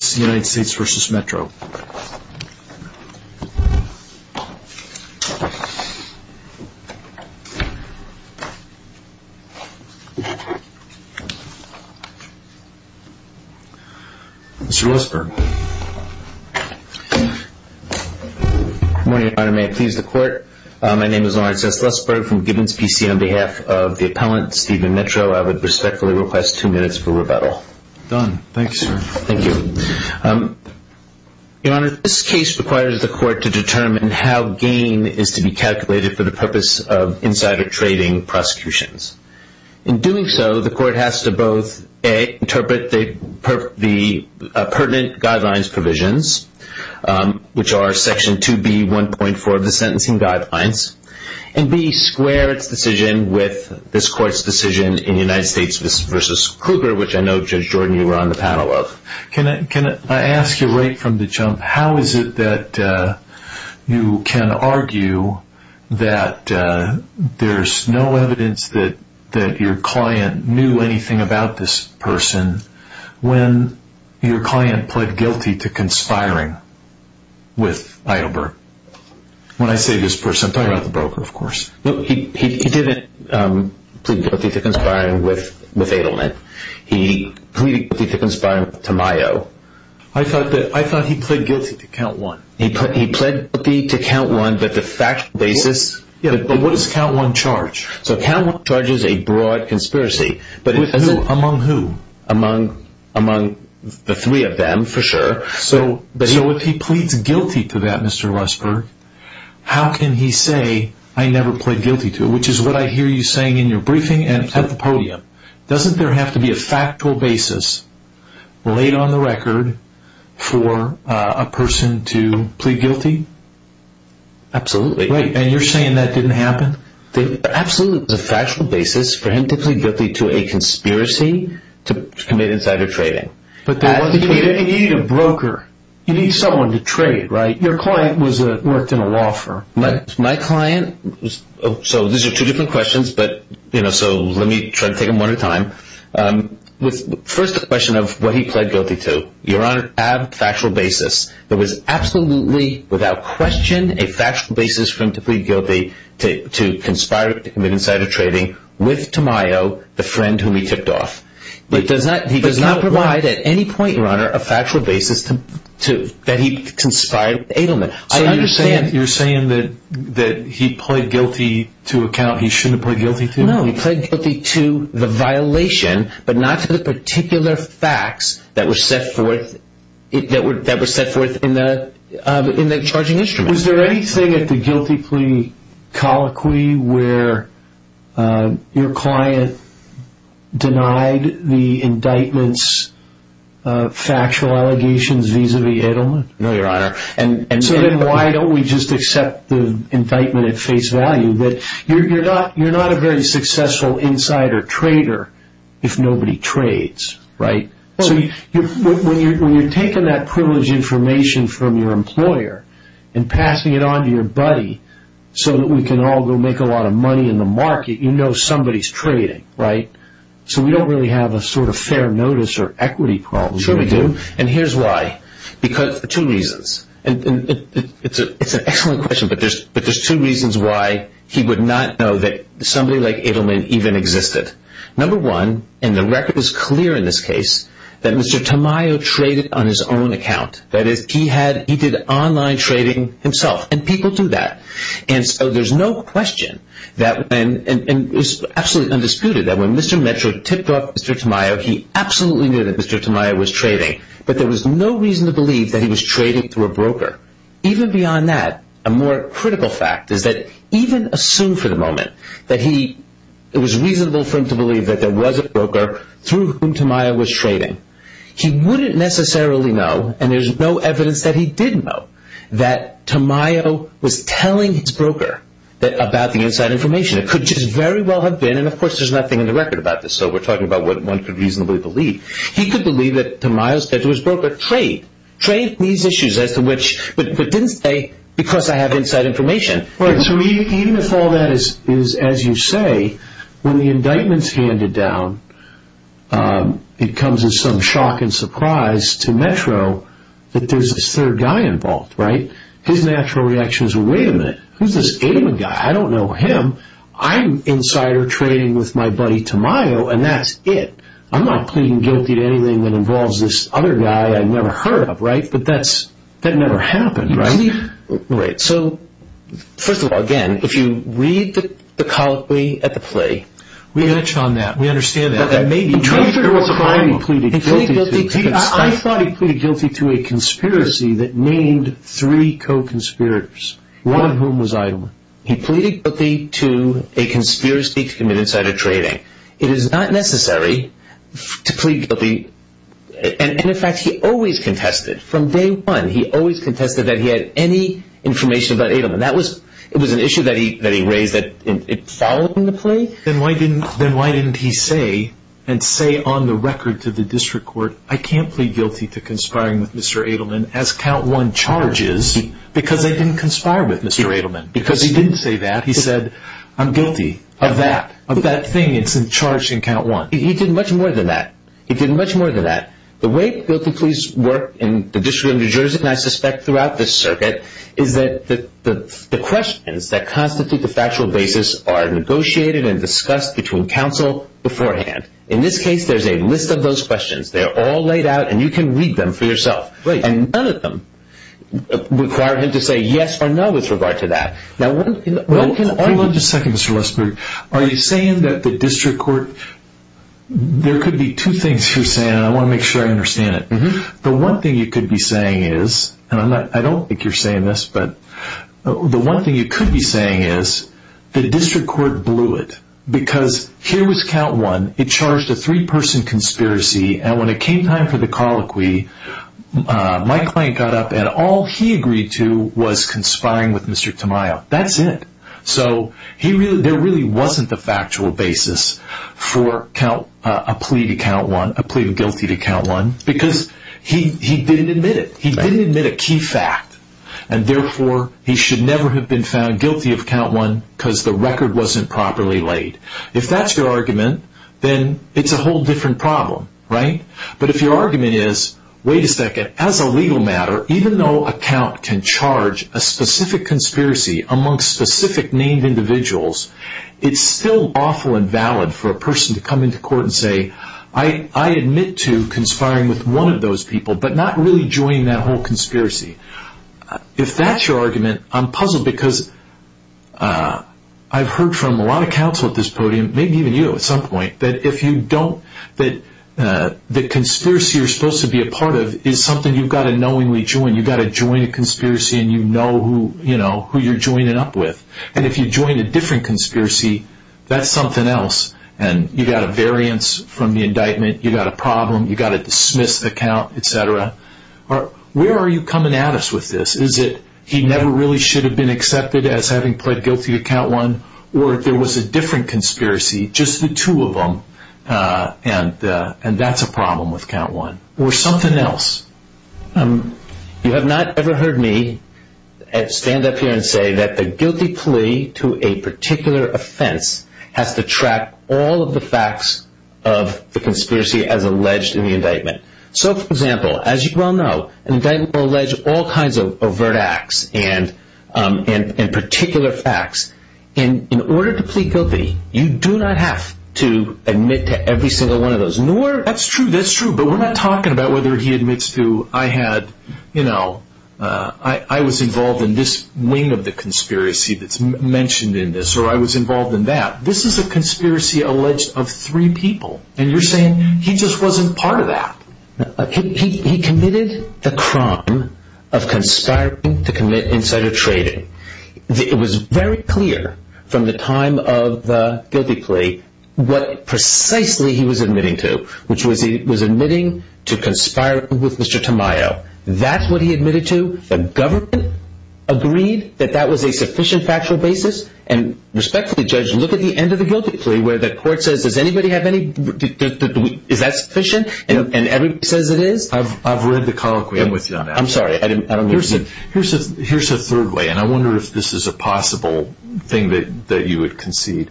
Good morning Your Honor, may it please the court, my name is Lawrence S. Lesburg from Gibbons PC on behalf of the appellant Stephen Metro, I would respectfully request two minutes for rebuttal. Done. Thanks. Thank you. Your Honor, this case requires the court to determine how gain is to be calculated for the purpose of insider trading prosecutions. In doing so, the court has to both interpret the pertinent guidelines provisions, which are section 2B 1.4 of the sentencing guidelines, and B, square its decision with this court's decision in United States v. Kruger, which I know Judge Jordan, you were on the panel of. Can I ask you right from the jump, how is it that you can argue that there's no evidence that your client knew anything about this person when your client pled guilty to conspiring with Heidelberg? When I say this person, I'm talking about the broker of course. No, he didn't plead guilty to conspiring with Heidelberg. He pleaded guilty to conspiring with Tamayo. I thought that he pled guilty to count one. He pled guilty to count one, but the fact of the basis... Yeah, but what does count one charge? So count one charges a broad conspiracy. With who? Among who? Among the three of them, for sure. So if he pleads guilty to that, Mr. Rusberg, how can he say, I never pled guilty to it, which is what I hear you saying in your briefing and at the podium. Doesn't there have to be a factual basis laid on the record for a person to plead guilty? Absolutely. Right, and you're saying that didn't happen? Absolutely. There's a factual basis for him to plead guilty to a conspiracy to commit insider trading. But you need a broker. You need someone to trade, right? Your client worked in a law firm. My client... So these are two different questions, so let me try to take them one at a time. First the question of what he pled guilty to. You're on a factual basis. There was absolutely, without question, a factual basis for him to plead guilty to conspire to commit insider trading with Tamayo, the friend whom he tipped off. But he does not provide at any point, Your Honor, a factual basis that he conspired with Edelman. So you're saying that he pled guilty to a count he shouldn't have pled guilty to? No, he pled guilty to the violation, but not to the particular facts that were set forth in the charging instrument. Was there anything at the guilty plea colloquy where your client denied the indictment's factual allegations vis-a-vis Edelman? No, Your Honor. And so then why don't we just accept the indictment at face value that you're not a very successful insider trader if nobody trades, right? So when you're taking that privileged information from your employer and passing it on to your buddy so that we can all go make a lot of money in the market, you know somebody's trading, right? So we don't really have a sort of fair notice or equity problem. Sure we do, and here's why. Because of two reasons. It's an excellent question, but there's two reasons why he would not know that somebody like Edelman even existed. Number one, and the record is clear in this case, that Mr. Tamayo traded on his own account. That is, he did online trading himself, and people do that. And so there's no question, and it's absolutely undisputed, that when Mr. Metro tipped off Mr. Tamayo, he absolutely knew that Mr. Tamayo was trading. But there was no reason to believe that he was trading through a broker. Even beyond that, a more critical fact is that even assumed for the moment that it was reasonable for him to believe that there was a broker through whom Tamayo was trading, he wouldn't necessarily know, and there's no evidence that he did know, that Tamayo was telling his broker about the inside information. It could just very well have been, and of course there's nothing in the record about this, so we're talking about what one could reasonably believe, he could believe that Tamayo said to his broker, trade, trade these issues as to which, but didn't say because I have inside information. So even if all that is as you say, when the indictment's handed down, it comes as some shock and surprise to Metro that there's this third guy involved, right? His natural reaction is, wait a minute, who's this Adam guy? I don't know him, I'm insider trading with my buddy Tamayo, and that's it. I'm not pleading guilty to anything that involves this other guy I never heard of, right? But that never happened, right? Right, so first of all, again, if you read the colloquy at the plea. We touched on that, we understand that, but I thought he pleaded guilty to a conspiracy that named three co-conspirators, one of whom was Idam. He pleaded guilty to a conspiracy to commit insider trading. It is not necessary to plead guilty, and in fact he always contested, from day one, he had any information about Adamant. That was an issue that he raised that followed in the plea. Then why didn't he say, and say on the record to the district court, I can't plead guilty to conspiring with Mr. Adelman as count one charges, because they didn't conspire with Mr. Adelman. Because he didn't say that, he said, I'm guilty of that, of that thing that's in charge in count one. He did much more than that. He did much more than that. The way guilty pleas work in the District of New Jersey, and I suspect throughout this circuit, is that the questions that constitute the factual basis are negotiated and discussed between counsel beforehand. In this case, there's a list of those questions, they're all laid out, and you can read them for yourself. And none of them require him to say yes or no with regard to that. Now what can- Wait just a second, Mr. Westberg. Are you saying that the district court, there could be two things you're saying, and I want to make sure I understand it. The one thing you could be saying is, and I don't think you're saying this, but the one thing you could be saying is, the district court blew it. Because here was count one, it charged a three person conspiracy, and when it came time for the colloquy, my client got up and all he agreed to was conspiring with Mr. Tamayo. That's it. So there really wasn't a factual basis for a plea to count one, a plea of guilty to count one, because he didn't admit it. He didn't admit a key fact, and therefore he should never have been found guilty of count one because the record wasn't properly laid. If that's your argument, then it's a whole different problem, right? But if your argument is, wait a second, as a legal matter, even though a count can charge a specific conspiracy amongst specific named individuals, it's still awful and valid for a person to come into court and say, I admit to conspiring with one of those people, but not really joining that whole conspiracy. If that's your argument, I'm puzzled because I've heard from a lot of counsel at this podium, maybe even you at some point, that the conspiracy you're supposed to be a part of is something you've got to knowingly join. You've got to join a conspiracy and you know who you're joining up with. And if you join a different conspiracy, that's something else, and you've got a variance from the indictment, you've got a problem, you've got to dismiss the count, etc. Where are you coming at us with this? Is it he never really should have been accepted as having pled guilty to count one, or there was a different conspiracy, just the two of them, and that's a problem with count one? Or something else? You have not ever heard me stand up here and say that the guilty plea to a particular offense has to track all of the facts of the conspiracy as alleged in the indictment. So for example, as you well know, an indictment will allege all kinds of overt acts and particular facts. In order to plead guilty, you do not have to admit to every single one of those. That's true, that's true, but we're not talking about whether he admits to, I was involved in this wing of the conspiracy that's mentioned in this, or I was involved in that. This is a conspiracy alleged of three people, and you're saying he just wasn't part of that. He committed the crime of conspiring to commit insider trading. It was very clear from the time of the guilty plea what precisely he was admitting to, which was he was admitting to conspiring with Mr. Tamayo. That's what he admitted to, the government agreed that that was a sufficient factual basis, and respectfully judge, look at the end of the guilty plea where the court says, does anybody have any, is that sufficient, and everybody says it is? I've read the colloquy, I'm with you on that. I'm sorry, I don't understand. Here's a third way, and I wonder if this is a possible thing that you would concede.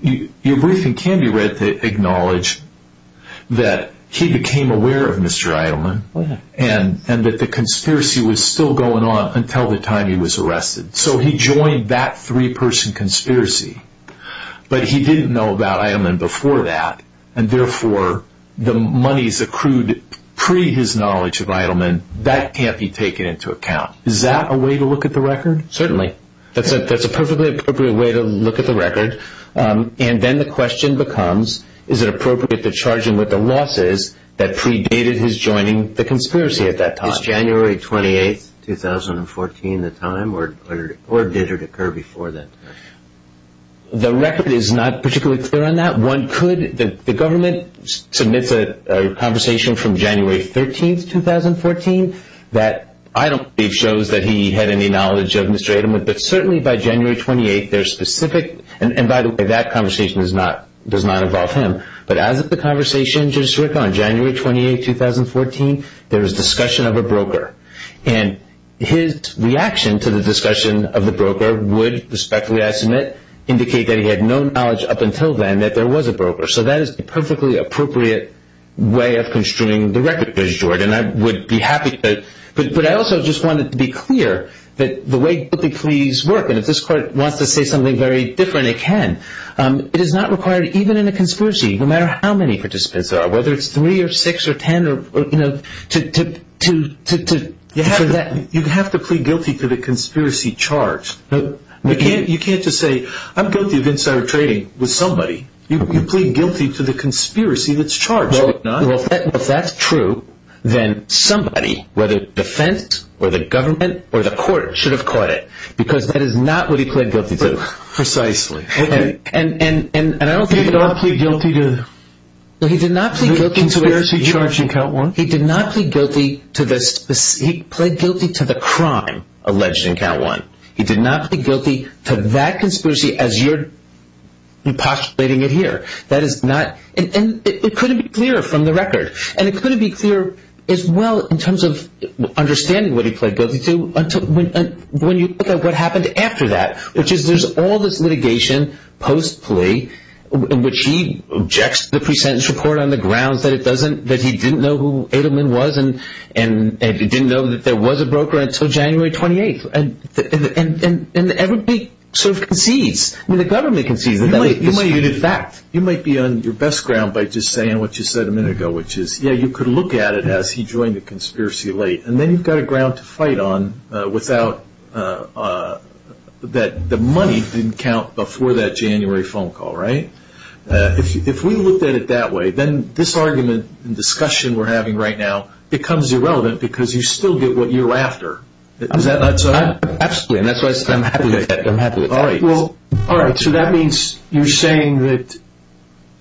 Your briefing can be read to acknowledge that he became aware of Mr. Eidelman, and that the conspiracy was still going on until the time he was arrested. So he joined that three person conspiracy, but he didn't know about Eidelman before that, and therefore, the monies accrued pre his knowledge of Eidelman, that can't be taken into account. Is that a way to look at the record? Certainly. That's a perfectly appropriate way to look at the record, and then the question becomes, is it appropriate to charge him with the losses that predated his joining the conspiracy at that time? Is January 28th, 2014 the time, or did it occur before then? The record is not particularly clear on that, one could, the government submits a conversation from January 13th, 2014, that I don't believe shows that he had any knowledge of Mr. Eidelman, but certainly by January 28th, there's specific, and by the way, that conversation does not involve him, but as of the conversation, Judge Sirica, on January 28th, 2014, there was discussion of a broker, and his reaction to the discussion of the broker would, respectfully I submit, indicate that he had no knowledge up until then that there was a broker. So that is a perfectly appropriate way of construing the record, Judge George, and I would be happy to, but I also just wanted to be clear that the way guilty pleas work, and if this court wants to say something very different, it can, it is not required, even in a conspiracy, no matter how many participants there are, whether it's three or six or ten or, you know, to, to, to, to, for that. You have to plead guilty to the conspiracy charge. You can't just say, I'm guilty of insider trading with somebody. You, you plead guilty to the conspiracy that's charged. Well, if that's true, then somebody, whether defense or the government or the court, should have caught it, because that is not what he pleaded guilty to. And, and, and, and I don't think he did not plead guilty to the conspiracy charge in count one. He did not plead guilty to this, he pleaded guilty to the crime alleged in count one. He did not plead guilty to that conspiracy as you're, you're postulating it here. That is not, and, and it couldn't be clearer from the record, and it couldn't be clear as well in terms of understanding what he pled guilty to until when, when you look at what happened after that, which is there's all this litigation, post plea, in which he objects to the pre-sentence report on the grounds that it doesn't, that he didn't know who Adelman was and, and, and he didn't know that there was a broker until January 28th. And, and, and, and, and everybody sort of concedes, I mean the government concedes. You might, you might, in fact, you might be on your best ground by just saying what you said a minute ago, which is, yeah, you could look at it as he joined the conspiracy late, and then you've got a ground to fight on without, that the money didn't count before that January phone call, right? If, if we looked at it that way, then this argument and discussion we're having right now becomes irrelevant because you still get what you're after. Is that not so? I, I, absolutely, and that's why I said I'm happy with that, I'm happy with it. All right. Well, all right. So that means you're saying that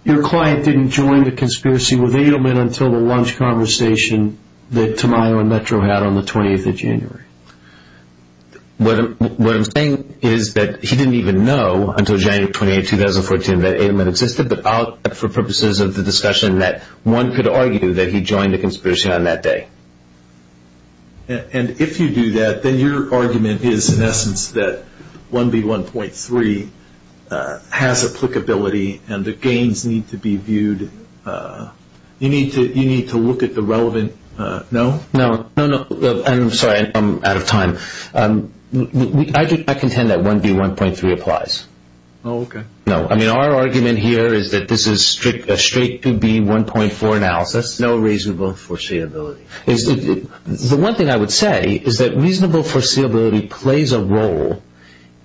your client didn't join the conspiracy with Adelman until the lunch conversation that Tamayo and Metro had on the 20th of January. What I'm, what I'm saying is that he didn't even know until January 28th, 2014, that Adelman existed, but for purposes of the discussion that one could argue that he joined the conspiracy on that day. And if you do that, then your argument is in essence that 1B1.3 has applicability and the gains need to be viewed, you need to, you need to look at the relevant, no? No, no, no, I'm sorry, I'm out of time. I do, I contend that 1B1.3 applies. Oh, okay. No, I mean, our argument here is that this is strict, a straight 2B1.4 analysis. That's no reasonable foreseeability. The one thing I would say is that reasonable foreseeability plays a role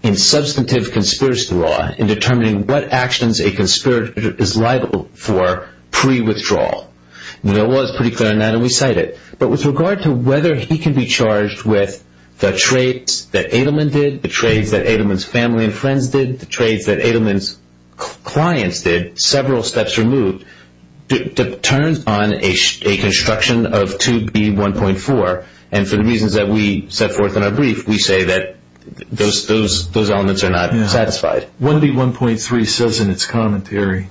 in substantive conspiracy law in determining what actions a conspirator is liable for pre-withdrawal. The law is pretty clear on that and we cite it. But with regard to whether he can be charged with the trades that Adelman did, the trades that Adelman's family and friends did, the trades that Adelman's several steps removed, it turns on a construction of 2B1.4 and for the reasons that we set forth in our brief, we say that those elements are not satisfied. 1B1.3 says in its commentary,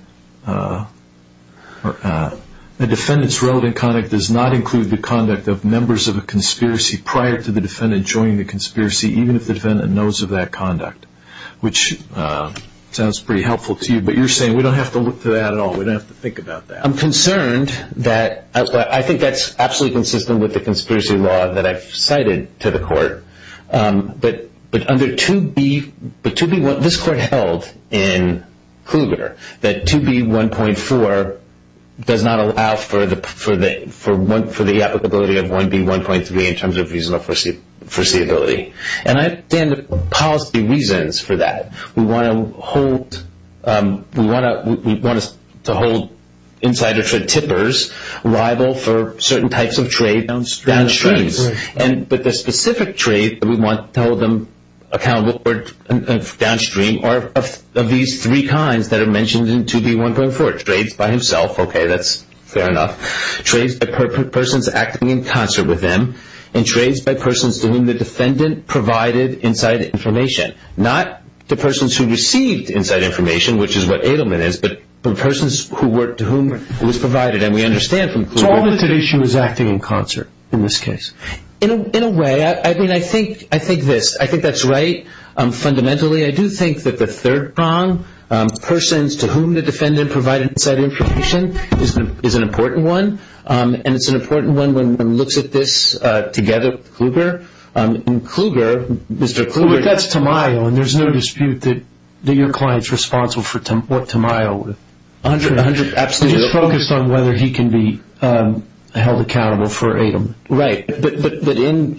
a defendant's relevant conduct does not include the conduct of members of a conspiracy prior to the defendant joining the conspiracy, even if the defendant knows of that conduct, which sounds pretty helpful to you. But you're saying we don't have to look to that at all. We don't have to think about that. I'm concerned that, I think that's absolutely consistent with the conspiracy law that I've cited to the court, but under 2B, but 2B1, this court held in Kluger that 2B1.4 does not allow for the applicability of 1B1.3 in terms of reasonable foreseeability. And I stand to policy reasons for that. We want to hold insider tippers liable for certain types of trade downstream. But the specific trade that we want to hold them accountable for downstream are of these three kinds that are mentioned in 2B1.4, trades by himself. Okay, that's fair enough. Trades by persons acting in concert with him and trades by persons to whom the persons who received inside information, which is what Edelman is, but the persons to whom it was provided. And we understand from Kluger- So all of the two issues acting in concert in this case. In a way, I mean, I think this. I think that's right. Fundamentally, I do think that the third prong, persons to whom the defendant provided inside information, is an important one. And it's an important one when one looks at this together with Kluger. In Kluger, Mr. Kluger- But that's Tamayo, and there's no dispute that your client's responsible for what Tamayo- A hundred percent, absolutely. He's focused on whether he can be held accountable for AEDM. Right, but in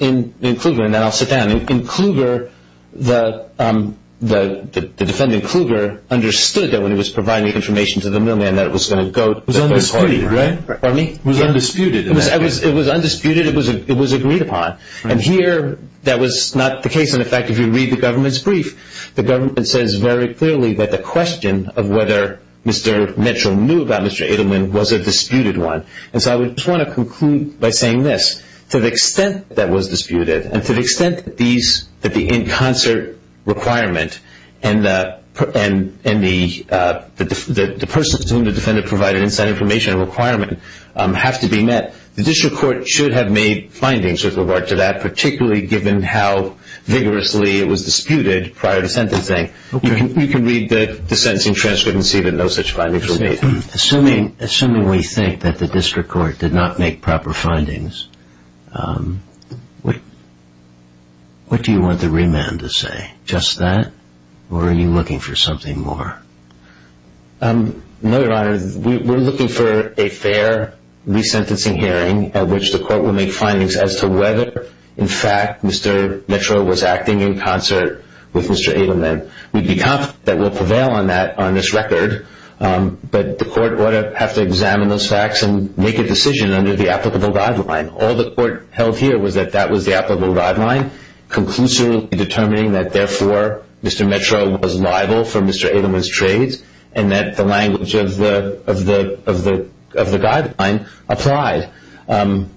Kluger, and then I'll sit down, in Kluger, the defendant Kluger understood that when he was providing information to the millman that it was going to go- Was undisputed, right? Pardon me? Was undisputed in that case. It was undisputed. It was agreed upon. And here, that was not the case. And in fact, if you read the government's brief, the government says very clearly that the question of whether Mr. Mitchell knew about Mr. Edelman was a disputed one. And so I would just want to conclude by saying this. To the extent that was disputed, and to the extent that these, that the in concert requirement and the person to whom the defendant provided inside information requirement have to be met, the district court should have made findings, with regard to that, particularly given how vigorously it was disputed prior to sentencing, you can read the sentencing transcript and see that no such findings were made. Assuming we think that the district court did not make proper findings, what do you want the remand to say? Just that? Or are you looking for something more? No, Your Honor, we're looking for a fair resentencing hearing at which the court would make findings as to whether, in fact, Mr. Mitchell was acting in concert with Mr. Edelman. We'd be confident that we'll prevail on that on this record, but the court would have to examine those facts and make a decision under the applicable guideline. All the court held here was that that was the applicable guideline, conclusively determining that, therefore, Mr. Mitchell was liable for Mr. Edelman's trades, and that the language of the guideline applied. And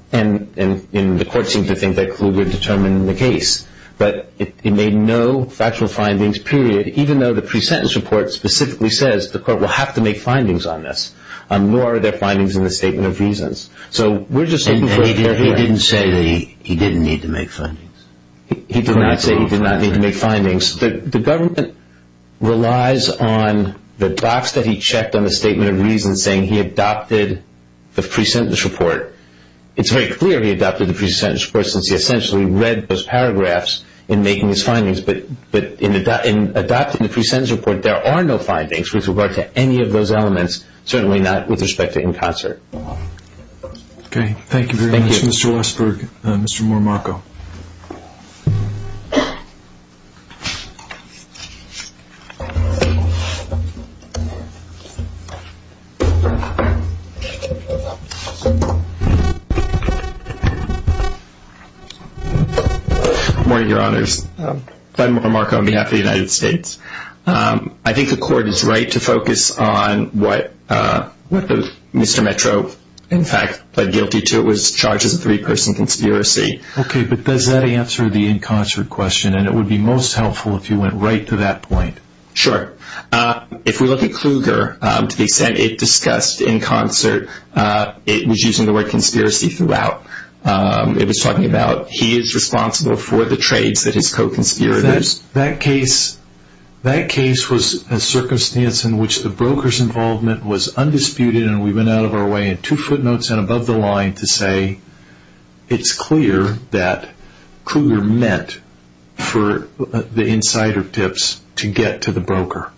the court seemed to think that clearly determined the case, but it made no factual findings, period, even though the pre-sentence report specifically says the court will have to make findings on this, nor are there findings in the statement of reasons. So we're just looking for a fair hearing. And he didn't say that he didn't need to make findings? He did not say he did not need to make findings. The government relies on the docs that he checked on the statement of reasons saying he adopted the pre-sentence report. It's very clear he adopted the pre-sentence report, since he essentially read those paragraphs in making his findings, but in adopting the pre-sentence report, there are no findings with regard to any of those elements, certainly not with respect to in concert. Okay. Thank you very much, Mr. Westberg, Mr. Morimako. Good morning, Your Honors. Ben Morimako on behalf of the United States. I think the court is right to focus on what Mr. Metro, in fact, pled guilty to. It was charged as a three-person conspiracy. Okay, but does that answer the in concert question? And it would be most helpful if you went right to that point. Sure. If we look at Kluger, to the extent it discussed in concert, it was using the word conspiracy throughout. It was talking about he is responsible for the trades that his co-conspirators. That case was a circumstance in which the broker's involvement was undisputed, and we went out of our way in two footnotes and above the line to say it's clear that Kluger meant for the insider tips to get to the broker.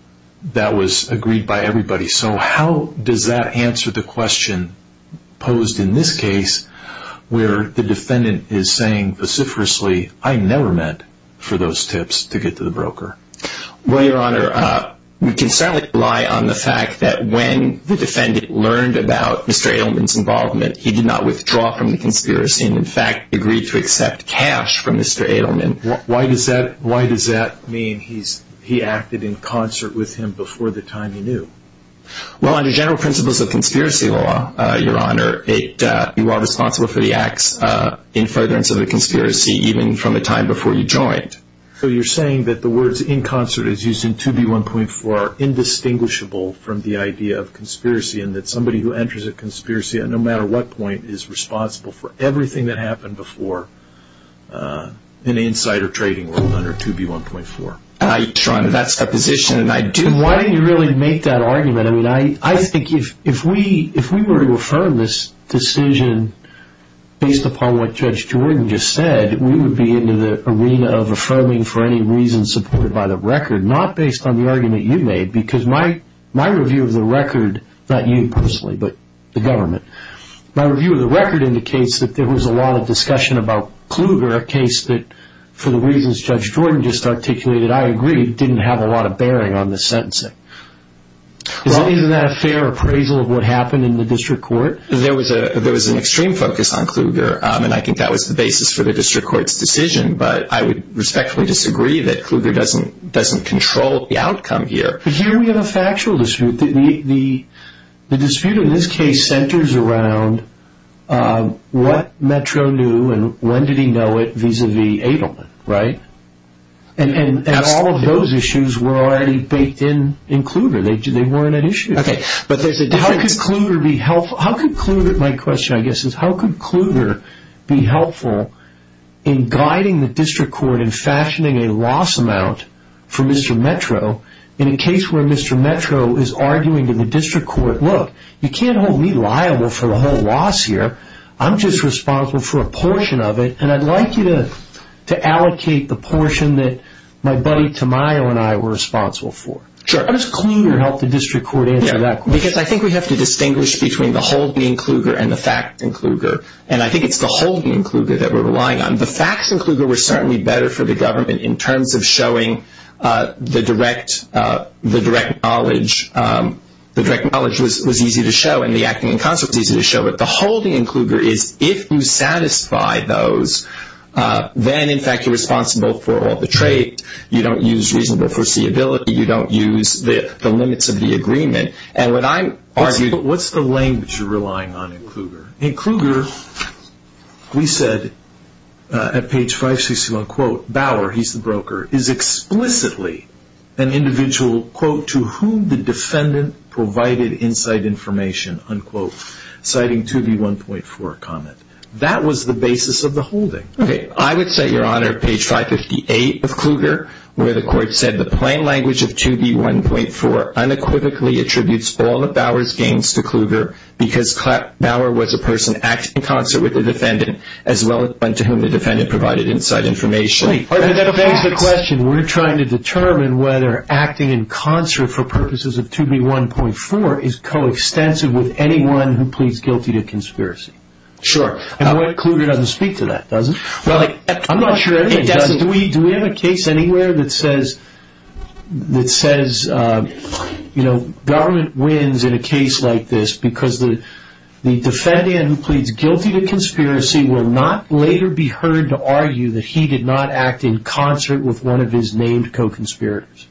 That was agreed by everybody. So how does that answer the question posed in this case where the defendant is saying vociferously, I never meant for those tips to get to the broker? Well, Your Honor, we can certainly rely on the fact that when the defendant learned about Mr. Edelman's involvement, he did not withdraw from the conspiracy and, in fact, agreed to Why does that mean he acted in concert with him before the time he knew? Well, under general principles of conspiracy law, Your Honor, you are responsible for the acts in furtherance of a conspiracy even from the time before you joined. So you're saying that the words in concert is used in 2B1.4 are indistinguishable from the idea of conspiracy and that somebody who enters a conspiracy at no matter what point is responsible for everything that happened before in the insider trading world under 2B1.4? Your Honor, that's the position. Why didn't you really make that argument? I mean, I think if we were to affirm this decision based upon what Judge Jordan just said, we would be in the arena of affirming for any reason supported by the record, not based on the argument you made because my review of the record, not you personally, but the government, my review of the record indicates that there was a lot of discussion about Kluger, a case that, for the reasons Judge Jordan just articulated, I agree, didn't have a lot of bearing on the sentencing. Isn't that a fair appraisal of what happened in the district court? There was an extreme focus on Kluger, and I think that was the basis for the district court's decision, but I would respectfully disagree that Kluger doesn't control the outcome here. But here we have a factual dispute. The dispute in this case centers around what Metro knew and when did he know it vis-à-vis Adelman, right? And all of those issues were already baked in in Kluger. They weren't an issue. How could Kluger be helpful? My question, I guess, is how could Kluger be helpful in guiding the district court in fashioning a loss amount for Mr. Metro in a case where Mr. Metro is arguing in the district court, look, you can't hold me liable for the whole loss here, I'm just responsible for a portion of it, and I'd like you to allocate the portion that my buddy Tamayo and I were responsible for. How does Kluger help the district court answer that question? Because I think we have to distinguish between the whole being Kluger and the fact in Kluger, and I think it's the whole being Kluger that we're relying on. The facts in Kluger were certainly better for the government in terms of showing the direct knowledge. The direct knowledge was easy to show and the acting in concert was easy to show, but the whole being Kluger is if you satisfy those, then, in fact, you're responsible for all the trade. You don't use reasonable foreseeability. You don't use the limits of the agreement. And what I'm arguing- What's the language you're relying on in Kluger? In Kluger, we said at page 561, quote, Bauer, he's the broker, is explicitly an individual, quote, to whom the defendant provided inside information, unquote, citing 2B1.4 comment. That was the basis of the holding. Okay. I would say, Your Honor, page 558 of Kluger, where the court said, the plain language of 2B1.4 unequivocally attributes all of Bauer's gains to Kluger because Bauer was a person acting in concert with the defendant as well as one to whom the defendant provided inside information. Wait. That begs the question. We're trying to determine whether acting in concert for purposes of 2B1.4 is coextensive with anyone who pleads guilty to conspiracy. Sure. And what, Kluger doesn't speak to that, does it? Well, like- I'm not sure anybody does. Do we have a case anywhere that says, you know, government wins in a case like this because the defendant who pleads guilty to conspiracy will not later be heard to argue that he did not act in concert with one of his named co-conspirators.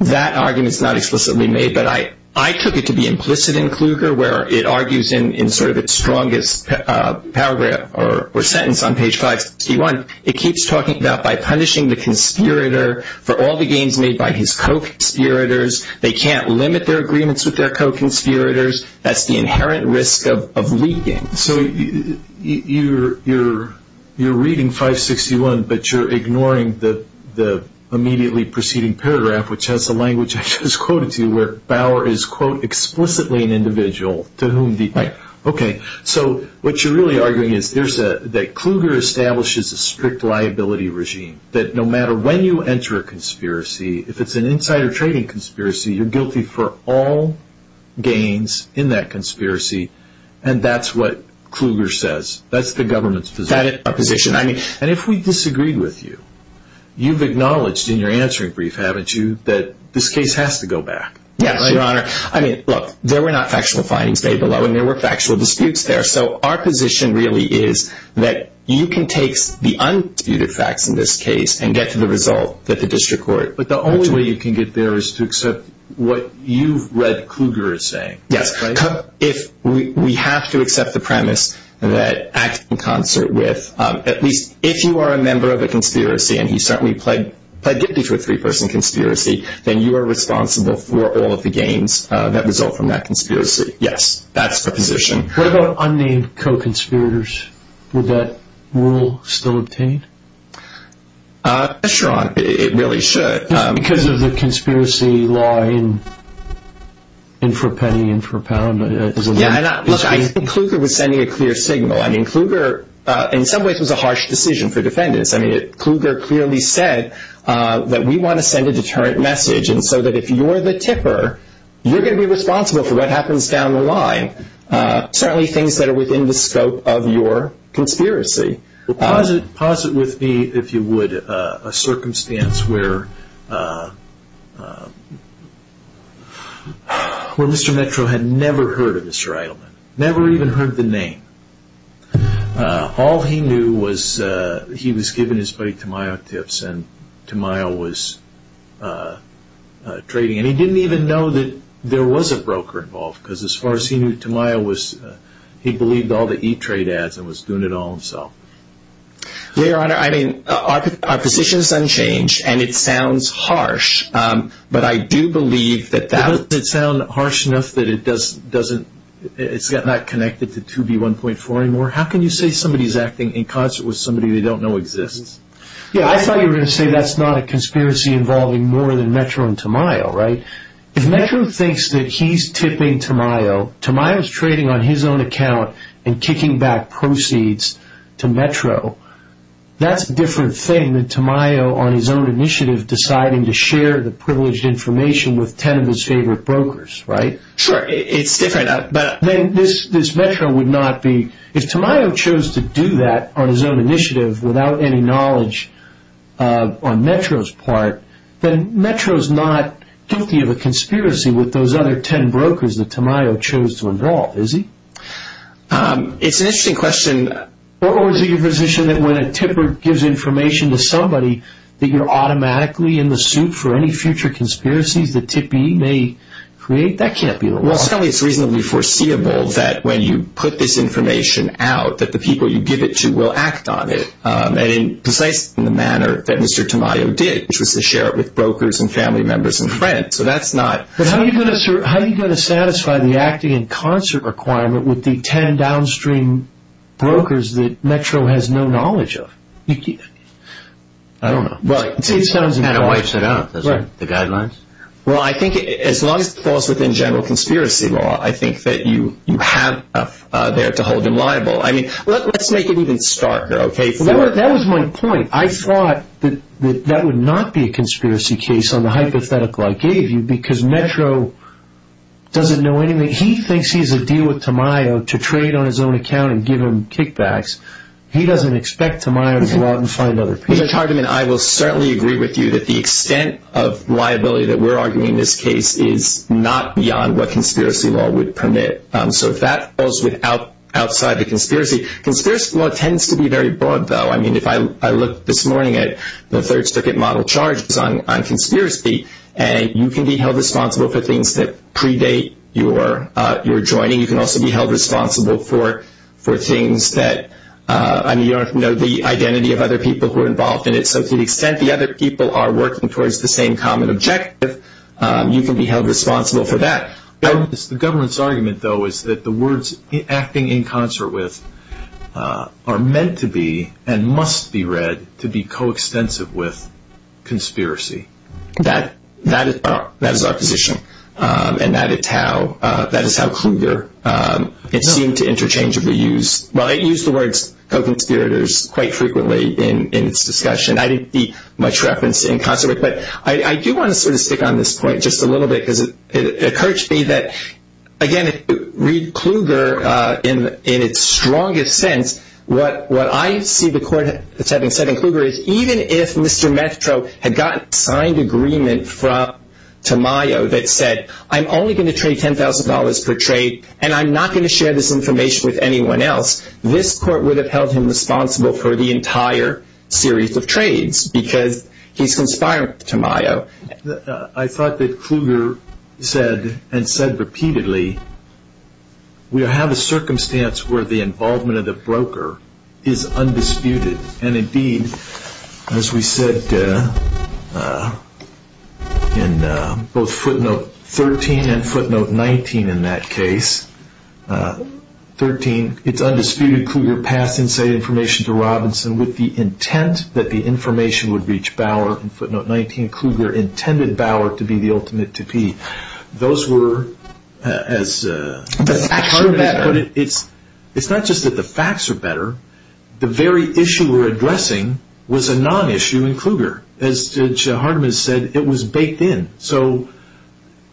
That argument is not explicitly made, but I took it to be implicit in Kluger where it argues in sort of its strongest paragraph or sentence on page 561. It keeps talking about by punishing the conspirator for all the gains made by his co-conspirators. They can't limit their agreements with their co-conspirators. That's the inherent risk of leaking. So you're reading 561, but you're ignoring the immediately preceding paragraph, which has the language I just quoted to you, where Bauer is, quote, explicitly an individual to whom the- Right. Okay. So what you're really arguing is that Kluger establishes a strict liability regime, that no matter when you enter a conspiracy, if it's an insider trading conspiracy, you're guilty for all gains in that conspiracy, and that's what Kluger says. That's the government's position. That is our position. I mean- And if we disagreed with you, you've acknowledged in your answering brief, haven't you, that this case has to go back. Yes, Your Honor. I mean, look, there were not factual findings laid below, and there were factual disputes there. So our position really is that you can take the undisputed facts in this case and get to the result that the district court- But the only way you can get there is to accept what you've read Kluger is saying. Yes. If we have to accept the premise that acting in concert with, at least if you are a member of a conspiracy, and he certainly pled guilty to a three-person conspiracy, then you are responsible for all of the gains that result from that conspiracy. Yes. That's the position. What about unnamed co-conspirators? Would that rule still obtain? Yes, Your Honor. It really should. Because of the conspiracy law in for penny and for pound? Yeah. Look, I think Kluger was sending a clear signal. I mean, Kluger in some ways was a harsh decision for defendants. I mean, Kluger clearly said that we want to send a deterrent message, and so that if you are the tipper, you're going to be responsible for what happens down the line, certainly things that are within the scope of your conspiracy. Well, posit with me, if you would, a circumstance where Mr. Metro had never heard of Mr. Eidelman, never even heard the name. All he knew was he was given his buddy Tamayo tips, and Tamayo was trading, and he didn't even know that there was a broker involved, because as far as he knew, Tamayo was, he believed all the E-Trade ads and was doing it all himself. Your Honor, I mean, our position is unchanged, and it sounds harsh, but I do believe that that was. Does it sound harsh enough that it's not connected to 2B1.4 anymore? How can you say somebody is acting in concert with somebody they don't know exists? Yeah, I thought you were going to say that's not a conspiracy involving more than Metro and Tamayo, right? If Metro thinks that he's tipping Tamayo, Tamayo is trading on his own account and kicking back proceeds to Metro. That's a different thing than Tamayo on his own initiative deciding to share the privileged information with 10 of his favorite brokers, right? Sure, it's different. Then this Metro would not be, if Tamayo chose to do that on his own initiative without any knowledge on Metro's part, then Metro's not guilty of a conspiracy with those other 10 brokers that Tamayo chose to involve, is he? It's an interesting question. Or is it your position that when a tipper gives information to somebody, that you're automatically in the suit for any future conspiracies that 2B may create? That can't be the law. Well, certainly it's reasonably foreseeable that when you put this information out, that the people you give it to will act on it, and in precisely the manner that Mr. Tamayo did, which was to share it with brokers and family members and friends. How are you going to satisfy the acting in concert requirement with the 10 downstream brokers that Metro has no knowledge of? I don't know. It sounds important. And it wipes it out, doesn't it? The guidelines? Well, I think as long as it falls within general conspiracy law, I think that you have enough there to hold him liable. I mean, let's make it even starker, okay? That was my point. I thought that that would not be a conspiracy case on the hypothetical I gave you, because Metro doesn't know anything. He thinks he's a deal with Tamayo to trade on his own account and give him kickbacks. He doesn't expect Tamayo to go out and find other people. Judge Hardiman, I will certainly agree with you that the extent of liability that we're arguing in this case is not beyond what conspiracy law would permit. So if that falls outside the conspiracy, conspiracy law tends to be very broad, though. I mean, if I look this morning at the third circuit model charges on conspiracy, you can be held responsible for things that predate your joining. You can also be held responsible for things that you don't know the identity of other people who are involved in it. So to the extent the other people are working towards the same common objective, you can be held responsible for that. The government's argument, though, is that the words acting in concert with are meant to be and must be read to be coextensive with conspiracy. That is our position. And that is how Kluger seemed to interchangeably use the words co-conspirators quite frequently in its discussion. I didn't see much reference in concert. But I do want to sort of stick on this point just a little bit because it occurs to me that, again, read Kluger in its strongest sense, what I see the court as having said in Kluger is, even if Mr. Metro had gotten signed agreement from Tamayo that said, I'm only going to trade $10,000 per trade and I'm not going to share this information with anyone else, this court would have held him responsible for the entire series of trades because he's conspiring with Tamayo. I thought that Kluger said and said repeatedly, we have a circumstance where the involvement of the broker is undisputed. And, indeed, as we said in both footnote 13 and footnote 19 in that case, 13, it's undisputed Kluger passed inside information to Robinson with the intent that the information would reach Bauer. In footnote 19, Kluger intended Bauer to be the ultimate to be. Those were as... The facts are better. It's not just that the facts are better. The very issue we're addressing was a non-issue in Kluger. As Judge Hardiman said, it was baked in. So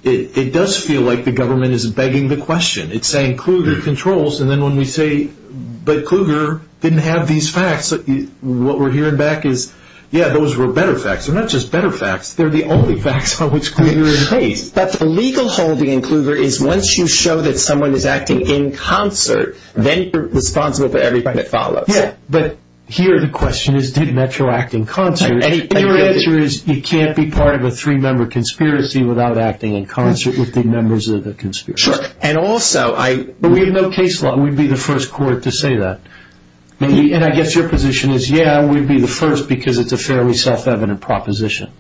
it does feel like the government is begging the question. It's saying Kluger controls and then when we say, but Kluger didn't have these facts, what we're hearing back is, yeah, those were better facts. They're not just better facts. They're the only facts on which Kluger is based. But the legal holding in Kluger is once you show that someone is acting in concert, then you're responsible for everything that follows. Yeah, but here the question is, did Metro act in concert? And your answer is you can't be part of a three-member conspiracy without acting in concert with the members of the conspiracy. Sure, and also I... But we have no case law. We'd be the first court to say that. And I guess your position is, yeah, we'd be the first because it's a fairly self-evident proposition.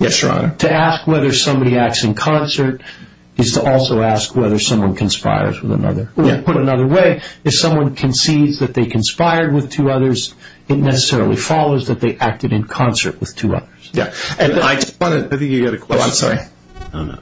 Yes, Your Honor. To ask whether somebody acts in concert is to also ask whether someone conspires with another. Put another way, if someone concedes that they conspired with two others, it necessarily follows that they acted in concert with two others. Yeah, and I just want to... I think you've got a question. Oh, I'm sorry. Oh, no.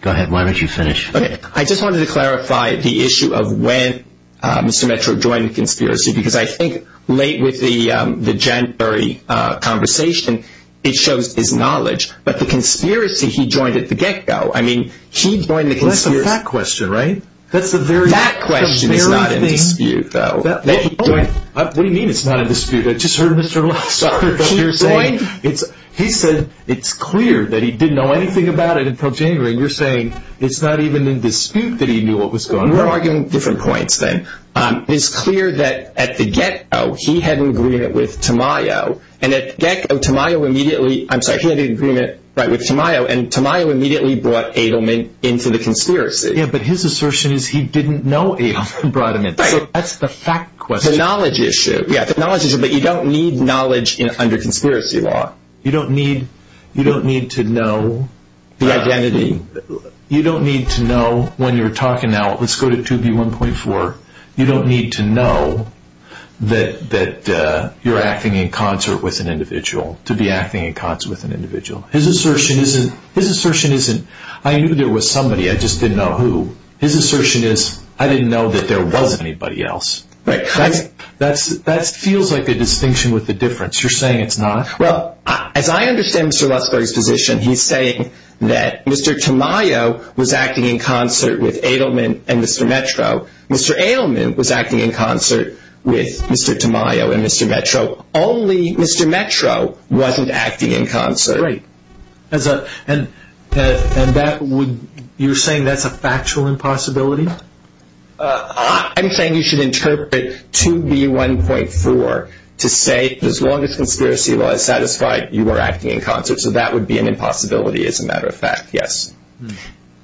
Go ahead. Why don't you finish? Okay. I just wanted to clarify the issue of when Mr. Metro joined the conspiracy because I think late with the Janbury conversation, it shows his knowledge. But the conspiracy he joined at the get-go, I mean, he joined the conspiracy... Well, that's the fact question, right? That's the very... That question is not in dispute, though. What do you mean it's not in dispute? I just heard Mr. Lassiter here saying it's clear that he didn't know anything about it until Janbury, and you're saying it's not even in dispute that he knew what was going on. We're arguing different points then. It's clear that at the get-go, he had an agreement with Tamayo, and at the get-go, Tamayo immediately... I'm sorry, he had an agreement with Tamayo, and Tamayo immediately brought Edelman into the conspiracy. Yeah, but his assertion is he didn't know Edelman brought him in. Right. So that's the fact question. The knowledge issue. Yeah, the knowledge issue, but you don't need knowledge under conspiracy law. You don't need to know the identity. You don't need to know when you're talking now. Let's go to 2B1.4. You don't need to know that you're acting in concert with an individual to be acting in concert with an individual. His assertion isn't... His assertion isn't, I knew there was somebody, I just didn't know who. His assertion is, I didn't know that there was anybody else. Right. That feels like a distinction with a difference. You're saying it's not? Well, as I understand Mr. Luthsberg's position, he's saying that Mr. Tamayo was acting in concert with Edelman and Mr. Metro. Mr. Edelman was acting in concert with Mr. Tamayo and Mr. Metro. Only Mr. Metro wasn't acting in concert. Right. And you're saying that's a factual impossibility? I'm saying you should interpret 2B1.4 to say as long as conspiracy law is satisfied, you were acting in concert. So that would be an impossibility as a matter of fact, yes.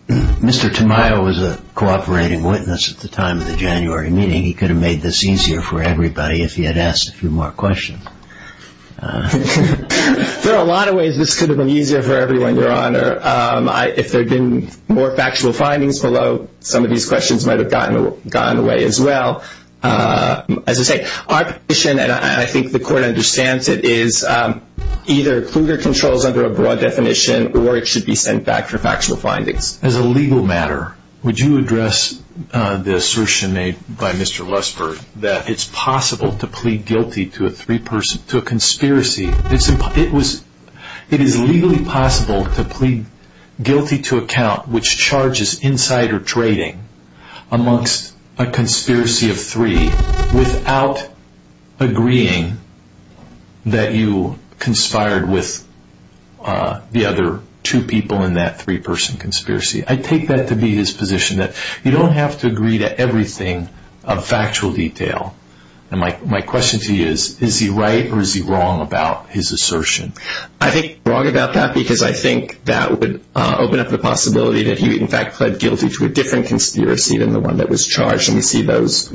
Mr. Tamayo was a cooperating witness at the time of the January meeting. He could have made this easier for everybody if he had asked a few more questions. There are a lot of ways this could have been easier for everyone, Your Honor. If there had been more factual findings below, some of these questions might have gotten away as well. As I say, our position, and I think the court understands it, is either Kluger controls under a broad definition or it should be sent back for factual findings. As a legal matter, would you address the assertion made by Mr. Lesper that it's possible to plead guilty to a conspiracy? It is legally possible to plead guilty to a count which charges insider trading amongst a conspiracy of three without agreeing that you conspired with the other two people in that three-person conspiracy. I take that to be his position that you don't have to agree to everything of factual detail. My question to you is, is he right or is he wrong about his assertion? I think he's wrong about that because I think that would open up the possibility that he in fact pled guilty to a different conspiracy than the one that was charged. We see those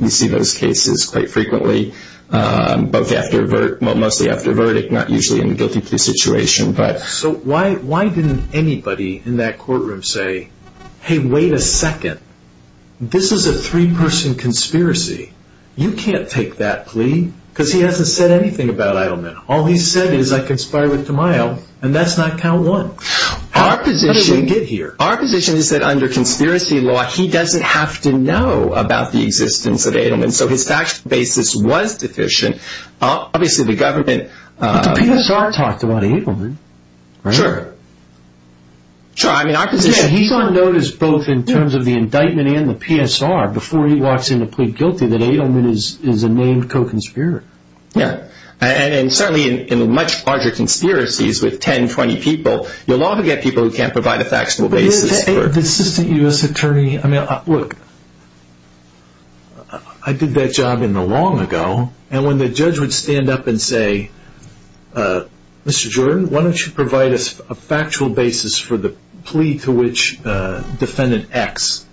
cases quite frequently, mostly after a verdict, not usually in a guilty plea situation. So why didn't anybody in that courtroom say, hey, wait a second, this is a three-person conspiracy. You can't take that plea because he hasn't said anything about Edelman. All he's said is I conspired with Tamayo and that's not count one. Our position is that under conspiracy law, he doesn't have to know about the existence of Edelman, so his factual basis was deficient. But the PSR talked about Edelman. Sure. He's on notice both in terms of the indictment and the PSR before he walks in to plead guilty that Edelman is a named co-conspirator. Certainly in much larger conspiracies with 10, 20 people, you'll often get people who can't provide a factual basis. The assistant U.S. attorney, I mean, look, I did that job in the long ago, and when the judge would stand up and say, Mr. Jordan, why don't you provide us a factual basis for the plea to which defendant X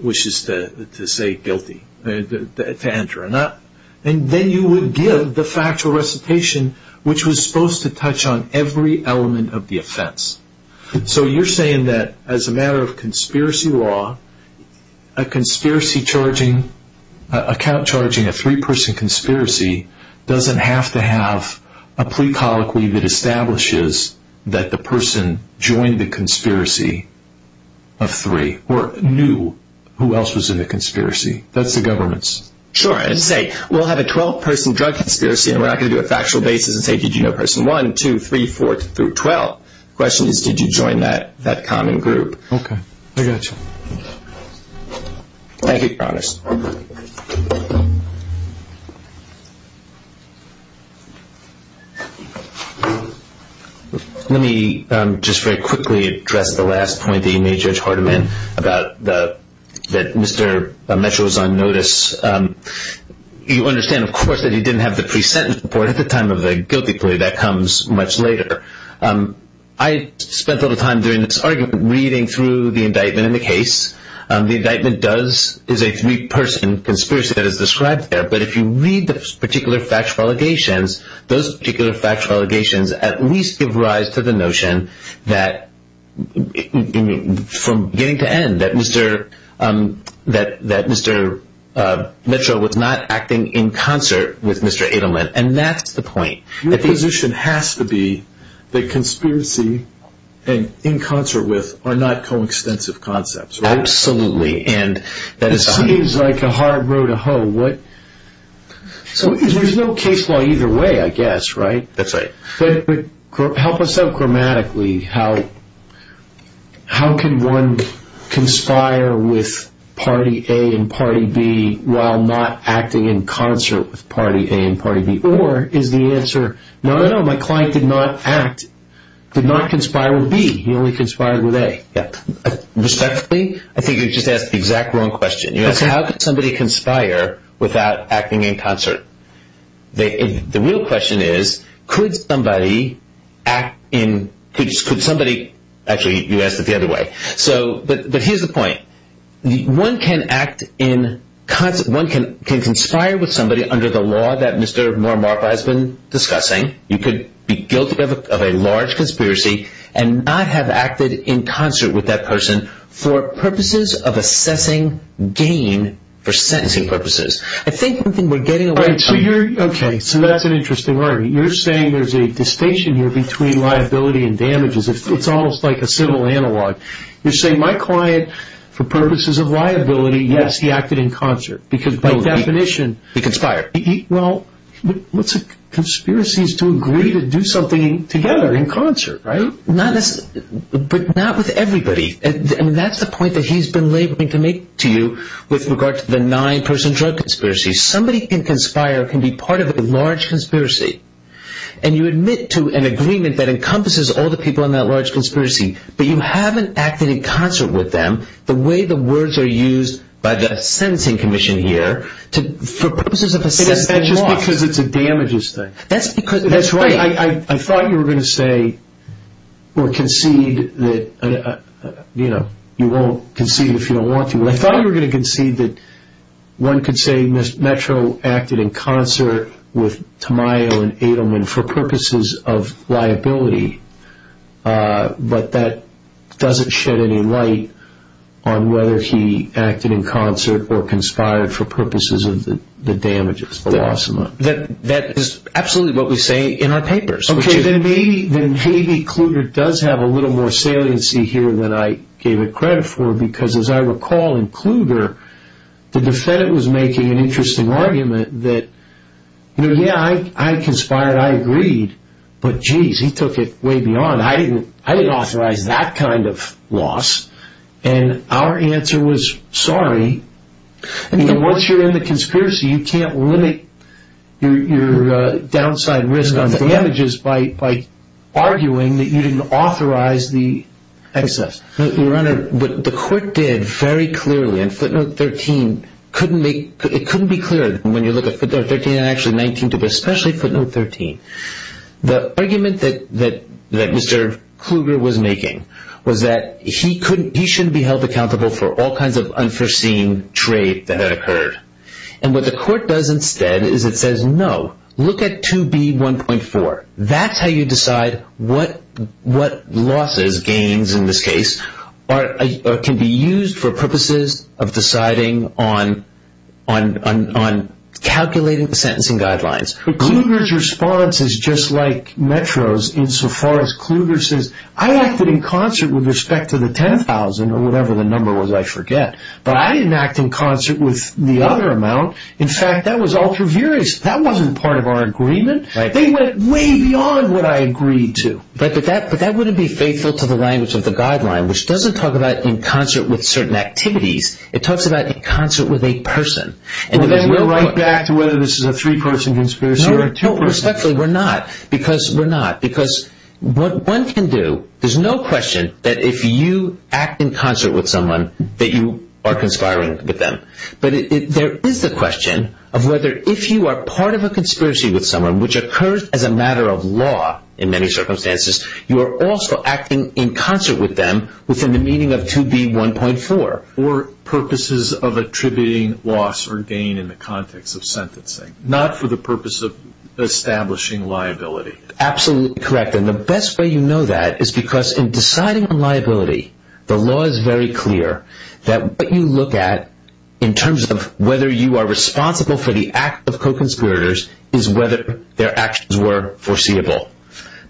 wishes to say guilty, to enter, and then you would give the factual recitation which was supposed to touch on every element of the offense. So you're saying that as a matter of conspiracy law, a conspiracy charging, account charging, a three-person conspiracy doesn't have to have a plea colloquy that establishes that the person joined the conspiracy of three or knew who else was in the conspiracy. That's the government's. Sure. Let's say we'll have a 12-person drug conspiracy and we're not going to do a factual basis and say, did you know person one, two, three, four, through 12. The question is, did you join that common group? Okay. I got you. Thank you, Your Honors. Let me just very quickly address the last point that you made, Judge Hardiman, about that Mr. Mitchell is on notice. You understand, of course, that he didn't have the pre-sentence report at the time of the guilty plea. That comes much later. I spent all the time during this argument reading through the indictment and the case. The indictment is a three-person conspiracy that is described there, but if you read the particular factual allegations, those particular factual allegations at least give rise to the notion that, from beginning to end, that Mr. Mitchell was not acting in concert with Mr. Adelman, and that's the point. Your position has to be that conspiracy and in concert with are not coextensive concepts, right? Absolutely. It seems like a hard row to hoe. There's no case law either way, I guess, right? That's right. Help us out grammatically. How can one conspire with Party A and Party B while not acting in concert with Party A and Party B? Or is the answer, no, no, no, my client did not act, did not conspire with B. He only conspired with A. Respectfully, I think you just asked the exact wrong question. You asked, how could somebody conspire without acting in concert? The real question is, could somebody act in – could somebody – actually, you asked it the other way. But here's the point. One can act in – one can conspire with somebody under the law that Mr. Marmarpa has been discussing. You could be guilty of a large conspiracy and not have acted in concert with that person for purposes of assessing gain for sentencing purposes. I think one thing we're getting away from – Okay, so that's an interesting argument. You're saying there's a distinction here between liability and damages. It's almost like a civil analog. You're saying my client, for purposes of liability, yes, he acted in concert. Because by definition – He conspired. Well, what's a conspiracy is to agree to do something together in concert, right? But not with everybody. And that's the point that he's been laboring to make to you with regard to the nine-person drug conspiracy. Somebody can conspire, can be part of a large conspiracy, and you admit to an agreement that encompasses all the people in that large conspiracy, but you haven't acted in concert with them the way the words are used by the sentencing commission here for purposes of assessing loss. That's just because it's a damages thing. That's because – That's right. I thought you were going to say or concede that – you won't concede if you don't want to. I thought you were going to concede that one could say Metro acted in concert with Tamayo and Adelman for purposes of liability. But that doesn't shed any light on whether he acted in concert or conspired for purposes of the damages, the loss amount. That is absolutely what we say in our papers. Okay, then maybe Kluger does have a little more saliency here than I gave it credit for, because as I recall in Kluger, the defendant was making an interesting argument that, you know, yeah, I conspired, I agreed, but, jeez, he took it way beyond. I didn't authorize that kind of loss, and our answer was sorry. Once you're in the conspiracy, you can't limit your downside risk on damages by arguing that you didn't authorize the excess. Your Honor, what the court did very clearly in footnote 13 couldn't make – it couldn't be clearer. When you look at footnote 13 and actually 19, especially footnote 13, the argument that Mr. Kluger was making was that he couldn't – he shouldn't be held accountable for all kinds of unforeseen trade that had occurred. And what the court does instead is it says, no, look at 2B1.4. That's how you decide what losses, gains in this case, can be used for purposes of deciding on calculating the sentencing guidelines. But Kluger's response is just like Metro's insofar as Kluger says, I acted in concert with respect to the $10,000 or whatever the number was, I forget. But I didn't act in concert with the other amount. In fact, that was ultra-furious. That wasn't part of our agreement. They went way beyond what I agreed to. But that wouldn't be faithful to the language of the guideline, which doesn't talk about in concert with certain activities. It talks about in concert with a person. Well, then we're right back to whether this is a three-person conspiracy or a two-person. No, respectfully, we're not. Because what one can do – there's no question that if you act in concert with someone that you are conspiring with them. But there is the question of whether if you are part of a conspiracy with someone, which occurs as a matter of law in many circumstances, you are also acting in concert with them within the meaning of 2B1.4. Or purposes of attributing loss or gain in the context of sentencing, not for the purpose of establishing liability. Absolutely correct. And the best way you know that is because in deciding on liability, the law is very clear that what you look at, in terms of whether you are responsible for the act of co-conspirators, is whether their actions were foreseeable.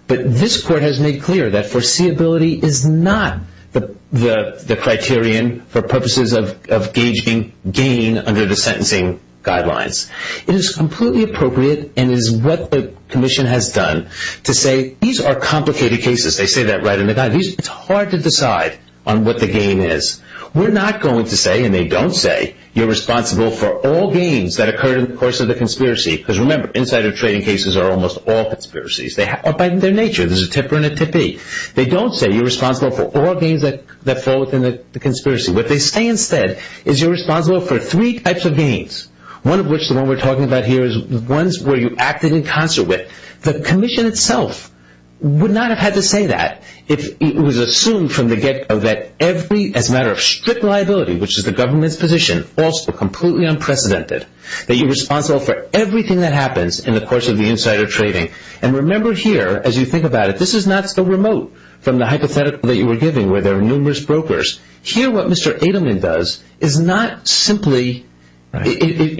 But this court has made clear that foreseeability is not the criterion for purposes of gauging gain under the sentencing guidelines. It is completely appropriate and is what the commission has done to say these are complicated cases. They say that right in the guide. It's hard to decide on what the gain is. We're not going to say, and they don't say, you're responsible for all gains that occurred in the course of the conspiracy. Because remember, insider trading cases are almost all conspiracies. By their nature, there's a tipper and a tippee. They don't say you're responsible for all gains that fall within the conspiracy. What they say instead is you're responsible for three types of gains. One of which, the one we're talking about here, is ones where you acted in concert with. The commission itself would not have had to say that if it was assumed from the get-go that every, as a matter of strict liability, which is the government's position, also completely unprecedented, that you're responsible for everything that happens in the course of the insider trading. And remember here, as you think about it, this is not so remote from the hypothetical that you were giving where there are numerous brokers. Here, what Mr. Adelman does is not simply acting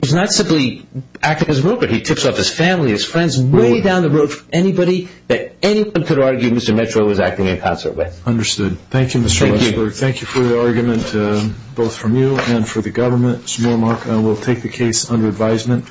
as a broker. He tips off his family, his friends, way down the road from anybody that anyone could argue Mr. Metro was acting in concert with. Understood. Thank you, Mr. Luxberg. Thank you. Thank you for the argument, both from you and for the government. Mr. Mormark, I will take the case under advisement.